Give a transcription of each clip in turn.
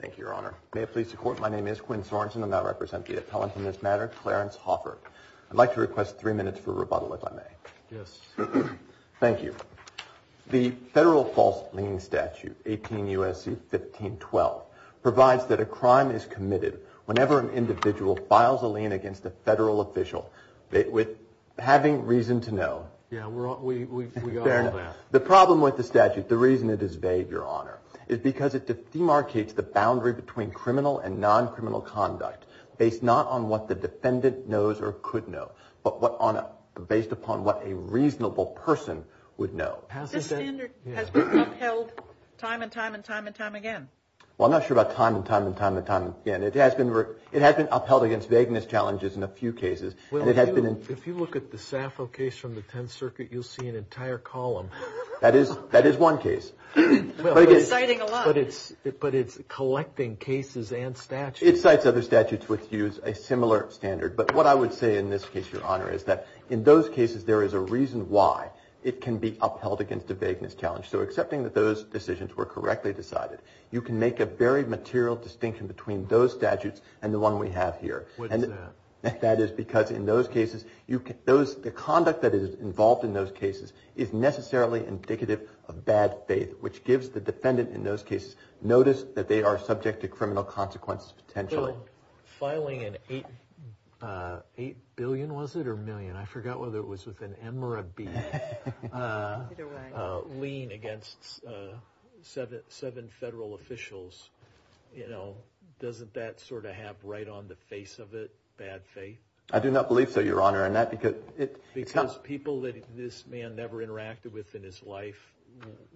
Thank you, Your Honor. May it please the Court, my name is Quinn Sorensen and I represent the appellant in this matter, Clarence Hoffert. I'd like to request three minutes for rebuttal, if I may. Yes. Thank you. The federal false lien statute, 18 U.S.C. 1512, provides that a crime is committed whenever an individual files a lien against a federal official with having reason to know. Yeah, we got all that. The problem with the statute, the reason it is vague, Your Honor, is because it demarcates the boundary between criminal and non-criminal conduct based not on what the defendant knows or could know, but based upon what a reasonable person would know. The standard has been upheld time and time and time and time again. Well, I'm not sure about time and time and time and time again. It has been upheld against vagueness challenges in a few cases. Well, if you look at the Saffo case from the Tenth Circuit, you'll see an entire column. That is one case. But it's collecting cases and statutes. It cites other statutes which use a similar standard. But what I would say in this case, Your Honor, is that in those cases there is a reason why it can be upheld against a vagueness challenge. So accepting that those decisions were correctly decided, you can make a very material distinction between those statutes and the one we have here. What is that? That is because in those cases, the conduct that is involved in those cases is necessarily indicative of bad faith, which gives the defendant in those cases notice that they are subject to criminal consequences potentially. Well, filing an $8 billion, was it, or million? I forgot whether it was with an M or a B, lien against seven federal officials, doesn't that sort of have right on the face of it bad faith? I do not believe so, Your Honor. Because people that this man never interacted with in his life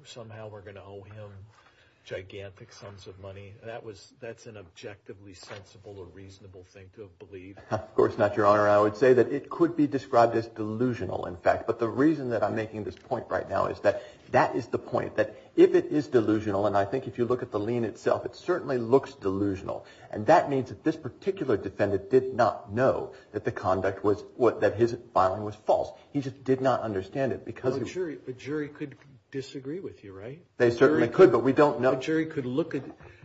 somehow are going to owe him gigantic sums of money. That's an objectively sensible or reasonable thing to believe. Of course not, Your Honor. I would say that it could be described as delusional, in fact. But the reason that I'm making this point right now is that that is the point, that if it is delusional, and I think if you look at the lien itself, it certainly looks delusional. And that means that this particular defendant did not know that the conduct was, that his filing was false. He just did not understand it. A jury could disagree with you, right? They certainly could, but we don't know. A jury could look at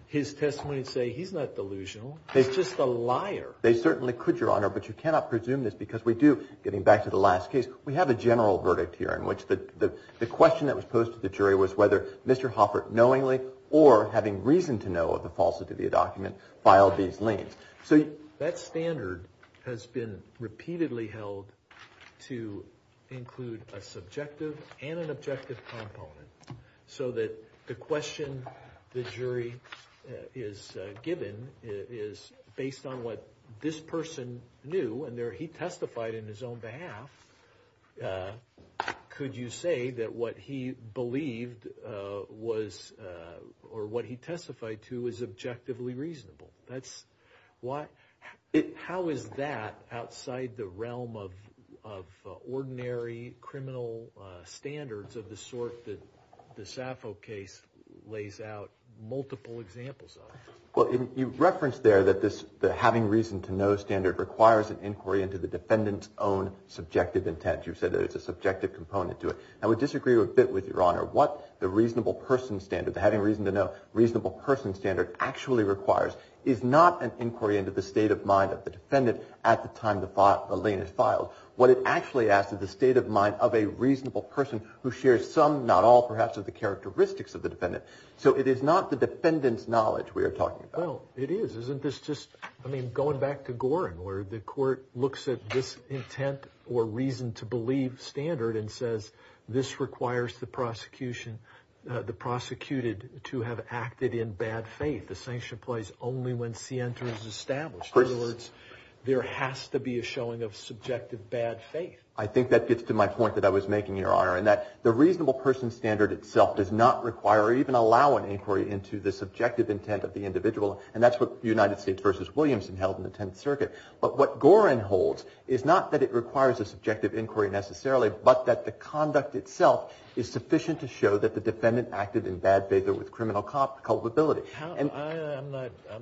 his testimony and say he's not delusional, he's just a liar. They certainly could, Your Honor, but you cannot presume this because we do, getting back to the last case, we have a general verdict here in which the question that was posed to the jury was whether Mr. Hoffert knowingly or having reason to know of the falsity of the document filed these liens. So that standard has been repeatedly held to include a subjective and an objective component, so that the question the jury is given is based on what this person knew, and he testified in his own behalf. Could you say that what he believed was, or what he testified to, was objectively reasonable? How is that outside the realm of ordinary criminal standards of the sort that the Saffo case lays out multiple examples of? Well, you referenced there that the having reason to know standard requires an inquiry into the defendant's own subjective intent. You said that it's a subjective component to it. I would disagree a bit with you, Your Honor. What the reasonable person standard, the having reason to know reasonable person standard, actually requires is not an inquiry into the state of mind of the defendant at the time the lien is filed. What it actually asks is the state of mind of a reasonable person who shares some, not all, perhaps, of the characteristics of the defendant. So it is not the defendant's knowledge we are talking about. Well, it is. Isn't this just, I mean, going back to Gorin where the court looks at this intent or reason to believe standard and says this requires the prosecution, the prosecuted, to have acted in bad faith. The sanction applies only when scienta is established. In other words, there has to be a showing of subjective bad faith. I think that gets to my point that I was making, Your Honor, in that the reasonable person standard itself does not require or even allow an inquiry into the subjective intent of the individual, and that's what the United States v. Williamson held in the Tenth Circuit. But what Gorin holds is not that it requires a subjective inquiry necessarily, but that the conduct itself is sufficient to show that the defendant acted in bad faith or with criminal culpability. I'm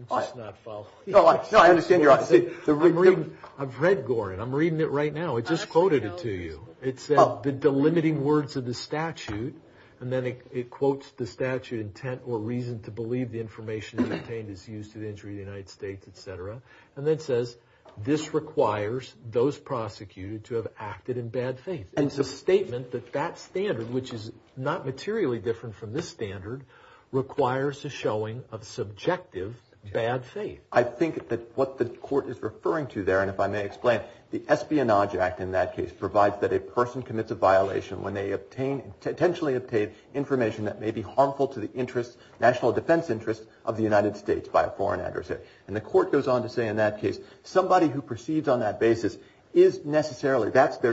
just not following. No, I understand your honesty. I've read Gorin. I'm reading it right now. It just quoted it to you. It said the delimiting words of the statute, and then it quotes the statute intent or reason to believe the information obtained is used to the injury of the United States, et cetera, and then it says this requires those prosecuted to have acted in bad faith. And it's a statement that that standard, which is not materially different from this standard, requires a showing of subjective bad faith. I think that what the court is referring to there, and if I may explain, the Espionage Act in that case provides that a person commits a violation when they obtain, intentionally obtain information that may be harmful to the interests, national defense interests of the United States by a foreign adversary. And the court goes on to say in that case somebody who proceeds on that basis is necessarily, that's the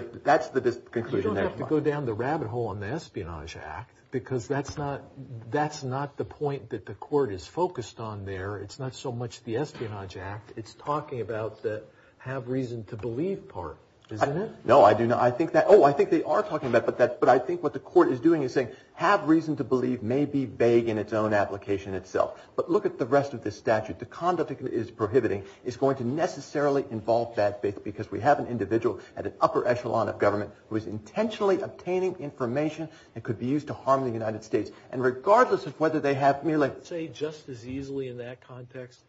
conclusion there. You don't have to go down the rabbit hole on the Espionage Act because that's not the point that the court is focused on there. It's not so much the Espionage Act. It's talking about the have reason to believe part, isn't it? No, I do not. I think that, oh, I think they are talking about that, but I think what the court is doing is saying have reason to believe may be vague in its own application itself. But look at the rest of this statute. The conduct it is prohibiting is going to necessarily involve bad faith because we have an individual at an upper echelon of government who is intentionally obtaining information that could be used to harm the United States. And regardless of whether they have merely. I would say just as easily in that context.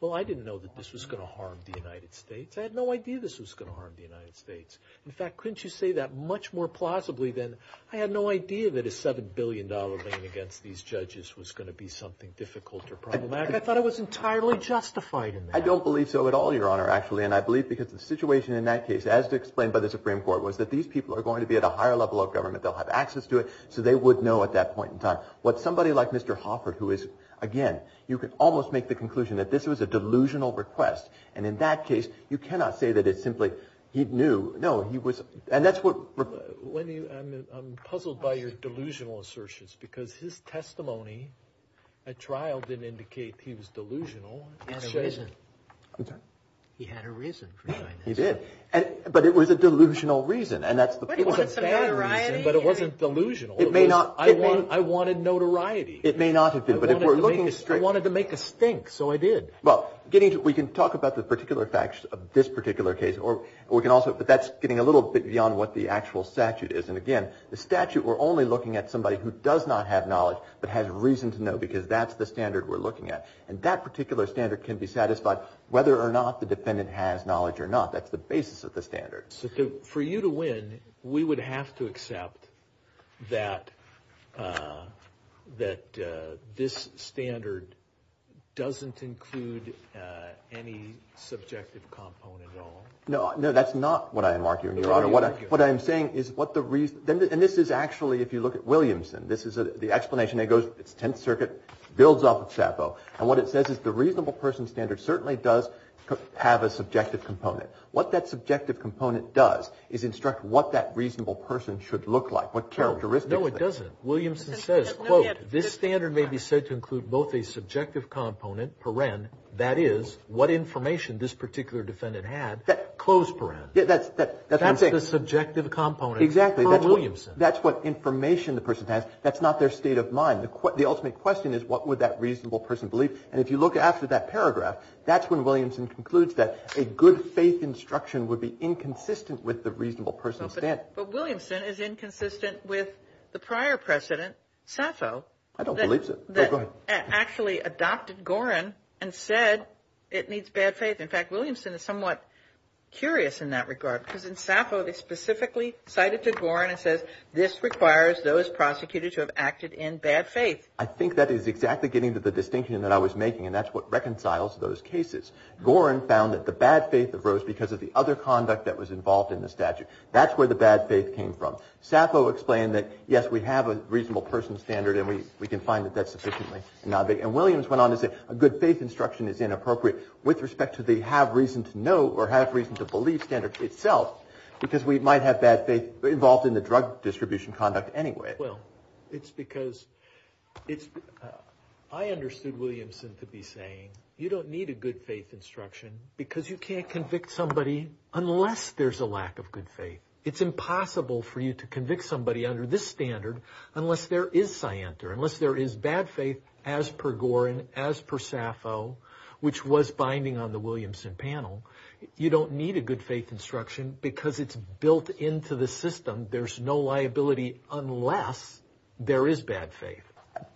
Well, I didn't know that this was going to harm the United States. I had no idea this was going to harm the United States. In fact, couldn't you say that much more plausibly than I had no idea that a $7 billion lien against these judges was going to be something difficult or problematic? I thought it was entirely justified in that. I don't believe so at all, Your Honor, actually. And I believe because the situation in that case, as explained by the Supreme Court, was that these people are going to be at a higher level of government. They'll have access to it. So they would know at that point in time. What somebody like Mr. Hoffert, who is, again, you can almost make the conclusion that this was a delusional request. And in that case, you cannot say that it's simply he knew. No, he was. And that's what. I'm puzzled by your delusional assertions because his testimony at trial didn't indicate he was delusional. He had a reason. I'm sorry? He had a reason for doing this. He did. But it was a delusional reason, and that's the point. It was a bad reason, but it wasn't delusional. It may not. I wanted notoriety. It may not have been, but if we're looking straight. I wanted to make a stink, so I did. Well, we can talk about the particular facts of this particular case, but that's getting a little bit beyond what the actual statute is. And again, the statute, we're only looking at somebody who does not have knowledge, but has reason to know because that's the standard we're looking at. And that particular standard can be satisfied whether or not the defendant has knowledge or not. That's the basis of the standard. So for you to win, we would have to accept that this standard doesn't include any subjective component at all? No, that's not what I am arguing, Your Honor. What I am saying is what the reason. And this is actually, if you look at Williamson, this is the explanation. It goes, it's 10th Circuit, builds off of Sappo. And what it says is the reasonable person standard certainly does have a subjective component. What that subjective component does is instruct what that reasonable person should look like, what characteristics. No, it doesn't. Williamson says, quote, this standard may be said to include both a subjective component, that is, what information this particular defendant had, close paren. That's what I'm saying. That's the subjective component for Williamson. Exactly. That's what information the person has. That's not their state of mind. The ultimate question is what would that reasonable person believe? And if you look after that paragraph, that's when Williamson concludes that a good faith instruction would be inconsistent with the reasonable person standard. But Williamson is inconsistent with the prior precedent, Sappo. I don't believe so. Actually adopted Gorin and said it needs bad faith. In fact, Williamson is somewhat curious in that regard, because in Sappo they specifically cited to Gorin and said this requires those prosecuted to have acted in bad faith. I think that is exactly getting to the distinction that I was making, and that's what reconciles those cases. Gorin found that the bad faith arose because of the other conduct that was involved in the statute. That's where the bad faith came from. Sappo explained that, yes, we have a reasonable person standard, and we can find that that's sufficiently. And Williams went on to say a good faith instruction is inappropriate with respect to the have reason to know or have reason to believe standard itself, because we might have bad faith involved in the drug distribution conduct anyway. Well, it's because I understood Williamson to be saying you don't need a good faith instruction because you can't convict somebody unless there's a lack of good faith. It's impossible for you to convict somebody under this standard unless there is scienter, unless there is bad faith as per Gorin, as per Sappo, which was binding on the Williamson panel. You don't need a good faith instruction because it's built into the system. There's no liability unless there is bad faith.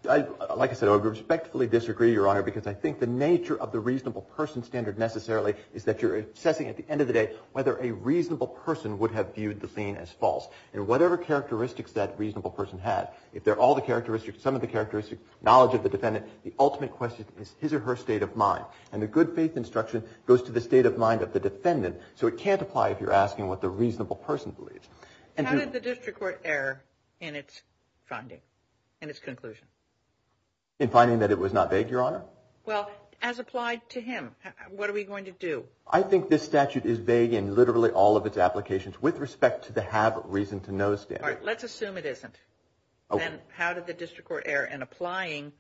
Like I said, I respectfully disagree, Your Honor, because I think the nature of the reasonable person standard necessarily is that you're assessing at the end of the day whether a reasonable person would have viewed the thing as false. And whatever characteristics that reasonable person had, if they're all the characteristics, some of the characteristics, knowledge of the defendant, the ultimate question is his or her state of mind. And the good faith instruction goes to the state of mind of the defendant, so it can't apply if you're asking what the reasonable person believes. How did the district court err in its finding, in its conclusion? In finding that it was not vague, Your Honor? Well, as applied to him. What are we going to do? I think this statute is vague in literally all of its applications with respect to the have reason to know standard. All right. Let's assume it isn't. Okay. Then how did the district court err in applying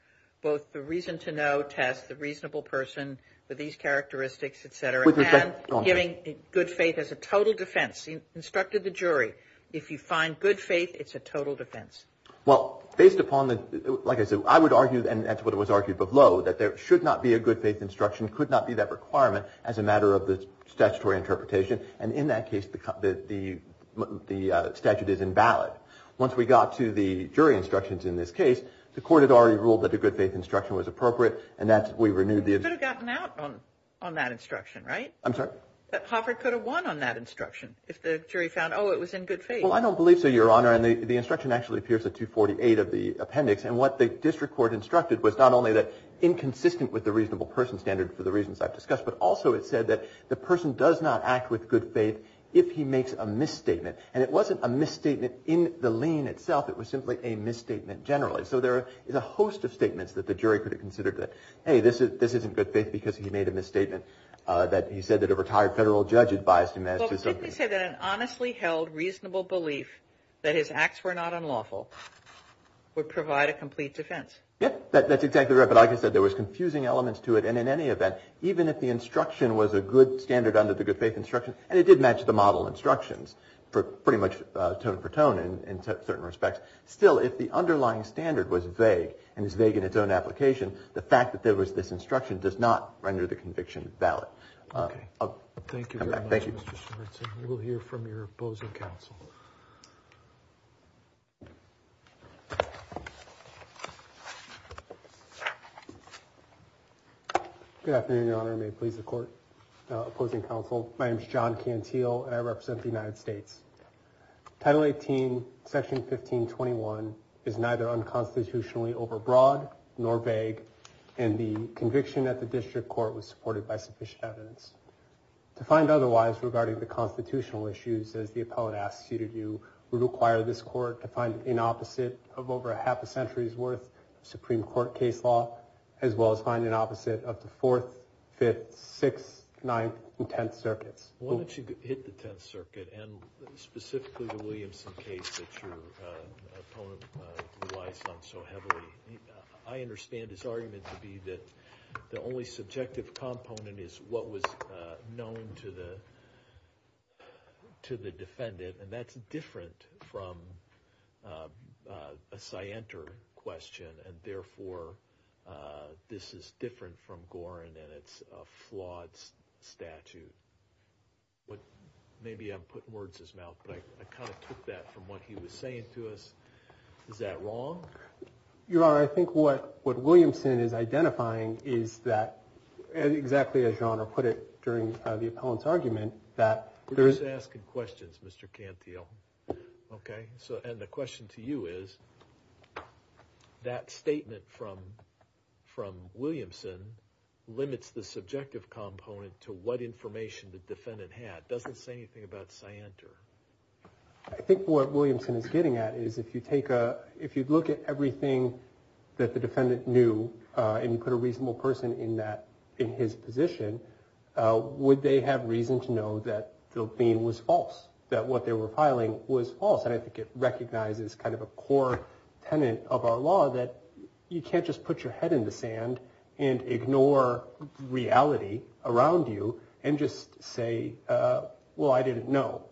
both the reason to know test, the reasonable person with these characteristics, et cetera, and giving good faith as a total defense? You instructed the jury, if you find good faith, it's a total defense. Well, based upon the, like I said, I would argue, and that's what it was argued below, that there should not be a good faith instruction, could not be that requirement, as a matter of the statutory interpretation. And in that case, the statute is invalid. Once we got to the jury instructions in this case, the court had already ruled that a good faith instruction was appropriate, and that's, we renewed the. You could have gotten out on that instruction, right? I'm sorry? Hofford could have won on that instruction if the jury found, oh, it was in good faith. Well, I don't believe so, Your Honor. And the instruction actually appears at 248 of the appendix. And what the district court instructed was not only that inconsistent with the reasonable person standard for the reasons I've discussed, but also it said that the person does not act with good faith if he makes a misstatement. And it wasn't a misstatement in the lien itself. It was simply a misstatement generally. So there is a host of statements that the jury could have considered that, hey, this isn't good faith because he made a misstatement, that he said that a retired federal judge advised him as to something. I would say that an honestly held reasonable belief that his acts were not unlawful would provide a complete defense. Yes, that's exactly right. But like I said, there was confusing elements to it. And in any event, even if the instruction was a good standard under the good faith instruction, and it did match the model instructions for pretty much tone for tone in certain respects, still if the underlying standard was vague and is vague in its own application, the fact that there was this instruction does not render the conviction valid. Okay. Thank you very much, Mr. Schwartz. We'll hear from your opposing counsel. Good afternoon, Your Honor. May it please the court opposing counsel. My name is John Cantillo. I represent the United States. Title 18, section 1521 is neither unconstitutionally overbroad nor vague. And the conviction at the district court was supported by sufficient evidence. To find otherwise regarding the constitutional issues, as the appellate asked you to do, would require this court to find an opposite of over half a century's worth of Supreme Court case law, as well as find an opposite of the Fourth, Fifth, Sixth, Ninth, and Tenth Circuits. Why don't you hit the Tenth Circuit and specifically the Williamson case that your opponent relies on so heavily? I understand his argument to be that the only subjective component is what was known to the defendant, and that's different from a scienter question, and therefore this is different from Gorin, and it's a flawed statute. Maybe I'm putting words to his mouth, but I kind of took that from what he was saying to us. Is that wrong? Your Honor, I think what Williamson is identifying is that, exactly as Your Honor put it during the appellant's argument, that there is... We're just asking questions, Mr. Cantillo. Okay? And the question to you is, that statement from Williamson limits the subjective component to what information the defendant had. It doesn't say anything about scienter. I think what Williamson is getting at is, if you look at everything that the defendant knew and you put a reasonable person in his position, would they have reason to know that the lien was false, that what they were filing was false? And I think it recognizes kind of a core tenet of our law that you can't just put your head in the sand and ignore reality around you and just say, well, I didn't know.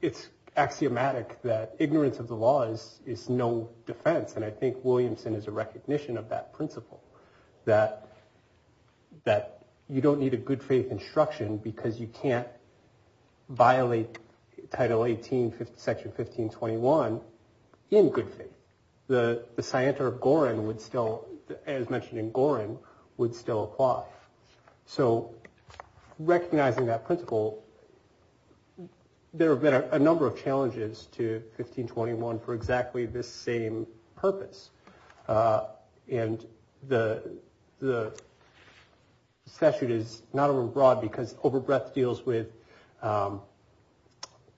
It's axiomatic that ignorance of the law is no defense, and I think Williamson is a recognition of that principle, that you don't need a good faith instruction because you can't violate Title 18, Section 1521 in good faith. The scienter of Gorin would still, as mentioned in Gorin, would still apply. So recognizing that principle, there have been a number of challenges to 1521 for exactly this same purpose. And the statute is not overbroad because overbreadth deals with,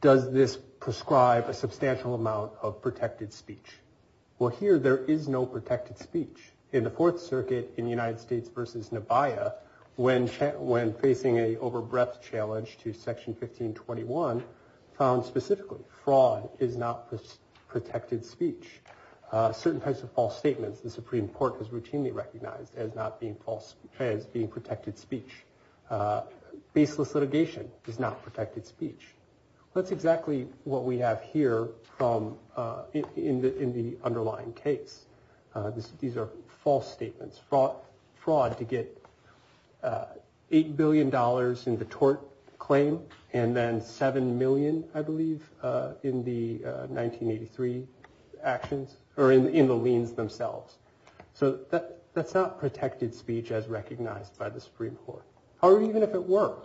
does this prescribe a substantial amount of protected speech? Well, here there is no protected speech. In the Fourth Circuit in United States v. Nebaia, when facing an overbreadth challenge to Section 1521, found specifically fraud is not protected speech. Certain types of false statements, the Supreme Court has routinely recognized as being protected speech. Baseless litigation is not protected speech. That's exactly what we have here in the underlying case. These are false statements, fraud to get $8 billion in the tort claim, and then $7 million, I believe, in the 1983 actions, or in the liens themselves. So that's not protected speech as recognized by the Supreme Court. However, even if it were,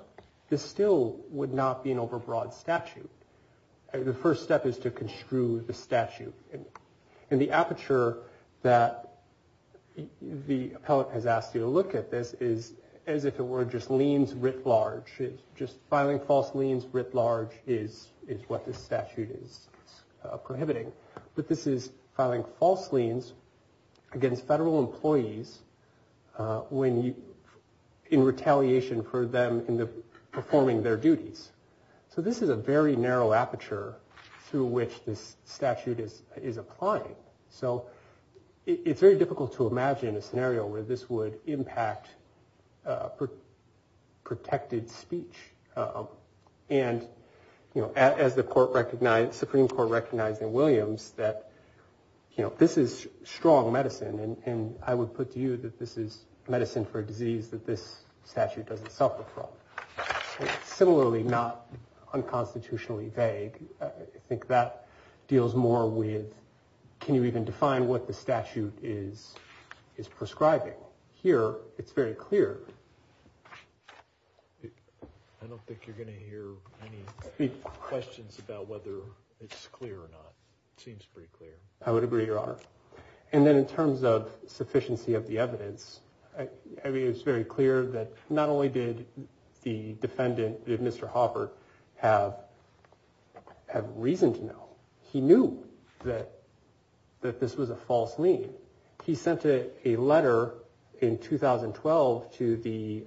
this still would not be an overbroad statute. The first step is to construe the statute. And the aperture that the appellate has asked you to look at this is, as if it were just liens writ large, just filing false liens writ large is what this statute is prohibiting. But this is filing false liens against federal employees in retaliation for them in the performing their duties. So this is a very narrow aperture through which this statute is applying. So it's very difficult to imagine a scenario where this would impact protected speech. And, you know, as the Supreme Court recognized in Williams that, you know, this is strong medicine. And I would put to you that this is medicine for a disease that this statute doesn't suffer from. Similarly, not unconstitutionally vague. I think that deals more with can you even define what the statute is prescribing. Here, it's very clear. I don't think you're going to hear any questions about whether it's clear or not. It seems pretty clear. I would agree, Your Honor. And then in terms of sufficiency of the evidence, I mean, it's very clear that not only did the defendant, did Mr. Hoffert have reason to know, he knew that this was a false lien. He sent a letter in 2012 to the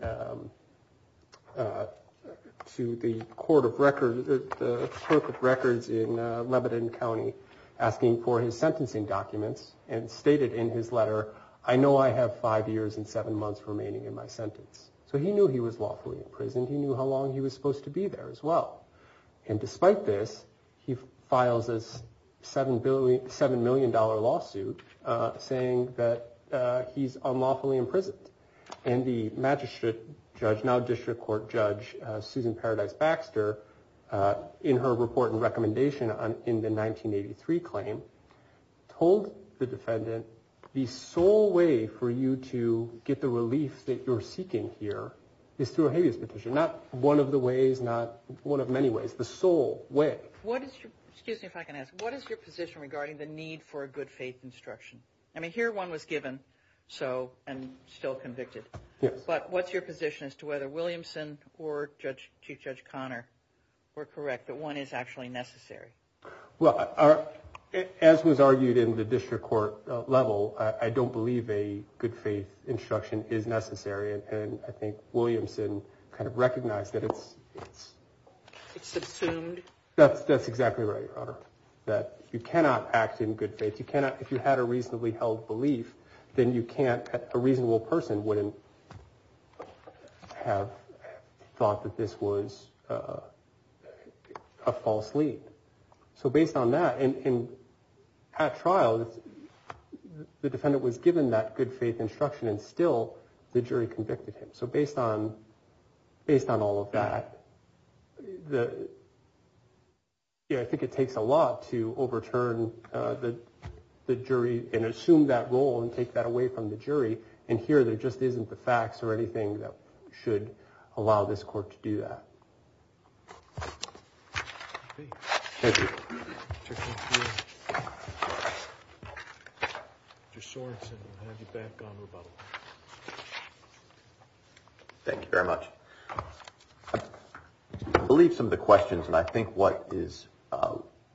court of records, the clerk of records in Lebanon County, asking for his sentencing documents and stated in his letter, I know I have five years and seven months remaining in my sentence. So he knew he was lawfully imprisoned. He knew how long he was supposed to be there as well. And despite this, he files a seven billion seven million dollar lawsuit saying that he's unlawfully imprisoned. And the magistrate judge, now district court judge, Susan Paradise Baxter, in her report and recommendation in the 1983 claim, told the defendant, the sole way for you to get the relief that you're seeking here is through a habeas petition. Not one of the ways, not one of many ways, the sole way. What is your position regarding the need for a good faith instruction? I mean, here one was given, so I'm still convicted. But what's your position as to whether Williamson or Chief Judge Conner were correct, that one is actually necessary? Well, as was argued in the district court level, I don't believe a good faith instruction is necessary. And I think Williamson kind of recognized that it's. It's assumed. That's exactly right, Your Honor, that you cannot act in good faith. If you cannot, if you had a reasonably held belief, then you can't. A reasonable person wouldn't have thought that this was a false lead. So based on that and at trial, the defendant was given that good faith instruction and still the jury convicted him. So based on based on all of that. I think it takes a lot to overturn the jury and assume that role and take that away from the jury. And here there just isn't the facts or anything that should allow this court to do that. Thank you. Thank you very much. I believe some of the questions and I think what is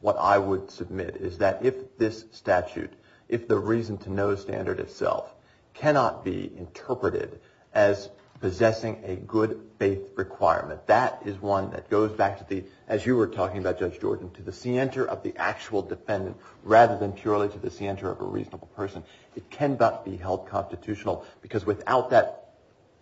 what I would submit is that if this statute, if the reason to no standard itself cannot be interpreted as possessing a good faith requirement, that is one that goes back to the, as you were talking about, Judge Jordan, to the center of the actual defendant rather than purely to the center of a reasonable person. It cannot be held constitutional because without that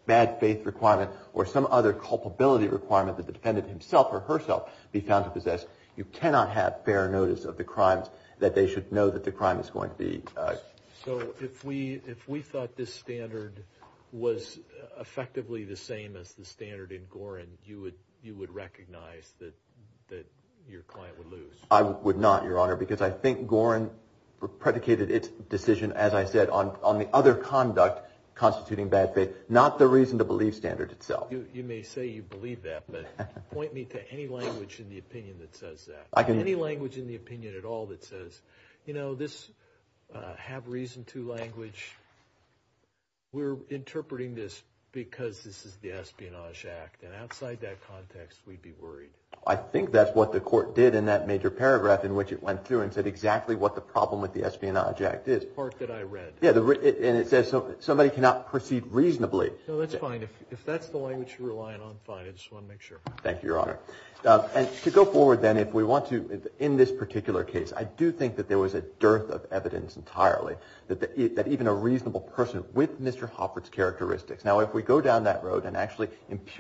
bad faith requirement or some other culpability requirement that the defendant himself or herself be found to possess, you cannot have fair notice of the crimes that they should know that the crime is going to be. So if we if we thought this standard was effectively the same as the standard in Gorin, you would you would recognize that that your client would lose. I would not, Your Honor, because I think Gorin predicated its decision, as I said, on on the other conduct constituting bad faith, not the reason to believe standard itself. You may say you believe that, but point me to any language in the opinion that says that I can. Any language in the opinion at all that says, you know, this have reason to language. We're interpreting this because this is the Espionage Act. And outside that context, we'd be worried. I think that's what the court did in that major paragraph in which it went through and said exactly what the problem with the Espionage Act is part that I read. Yeah. And it says somebody cannot proceed reasonably. So that's fine. If that's the language you're relying on, fine. Thank you, Your Honor. And to go forward, then, if we want to. In this particular case, I do think that there was a dearth of evidence entirely that that even a reasonable person with Mr. Hoffert's characteristics. Now, if we go down that road and actually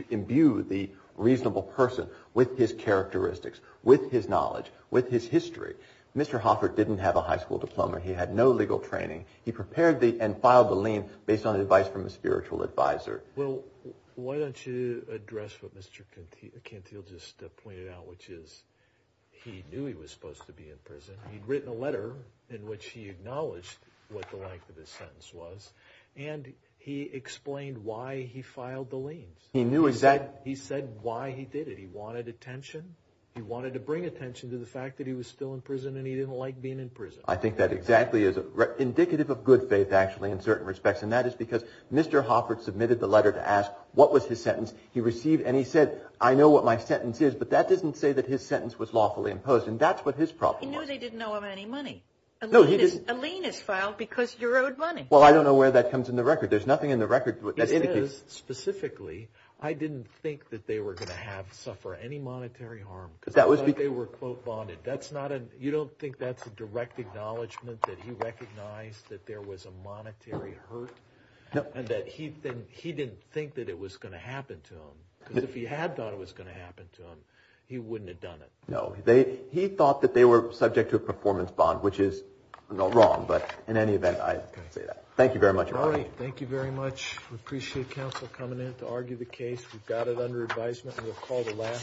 imbue the reasonable person with his characteristics, with his knowledge, with his history, Mr. Hoffert didn't have a high school diploma. He had no legal training. He prepared the and filed the lien based on advice from a spiritual advisor. Well, why don't you address what Mr. Cantile just pointed out, which is he knew he was supposed to be in prison. He'd written a letter in which he acknowledged what the length of his sentence was. And he explained why he filed the liens. He knew exactly. He said why he did it. He wanted attention. He wanted to bring attention to the fact that he was still in prison and he didn't like being in prison. I think that exactly is indicative of good faith, actually, in certain respects. And that is because Mr. Hoffert submitted the letter to ask what was his sentence. He received and he said, I know what my sentence is, but that doesn't say that his sentence was lawfully imposed. And that's what his problem was. He knew they didn't owe him any money. No, he didn't. A lien is filed because you're owed money. Well, I don't know where that comes in the record. There's nothing in the record that indicates. Specifically, I didn't think that they were going to have to suffer any monetary harm. That was because they were, quote, bonded. You don't think that's a direct acknowledgment that he recognized that there was a monetary hurt? No. And that he didn't think that it was going to happen to him? Because if he had thought it was going to happen to him, he wouldn't have done it. No. He thought that they were subject to a performance bond, which is wrong. But in any event, I say that. Thank you very much. All right. Thank you very much. We appreciate counsel coming in to argue the case. We've got it under advisement. We'll call the last.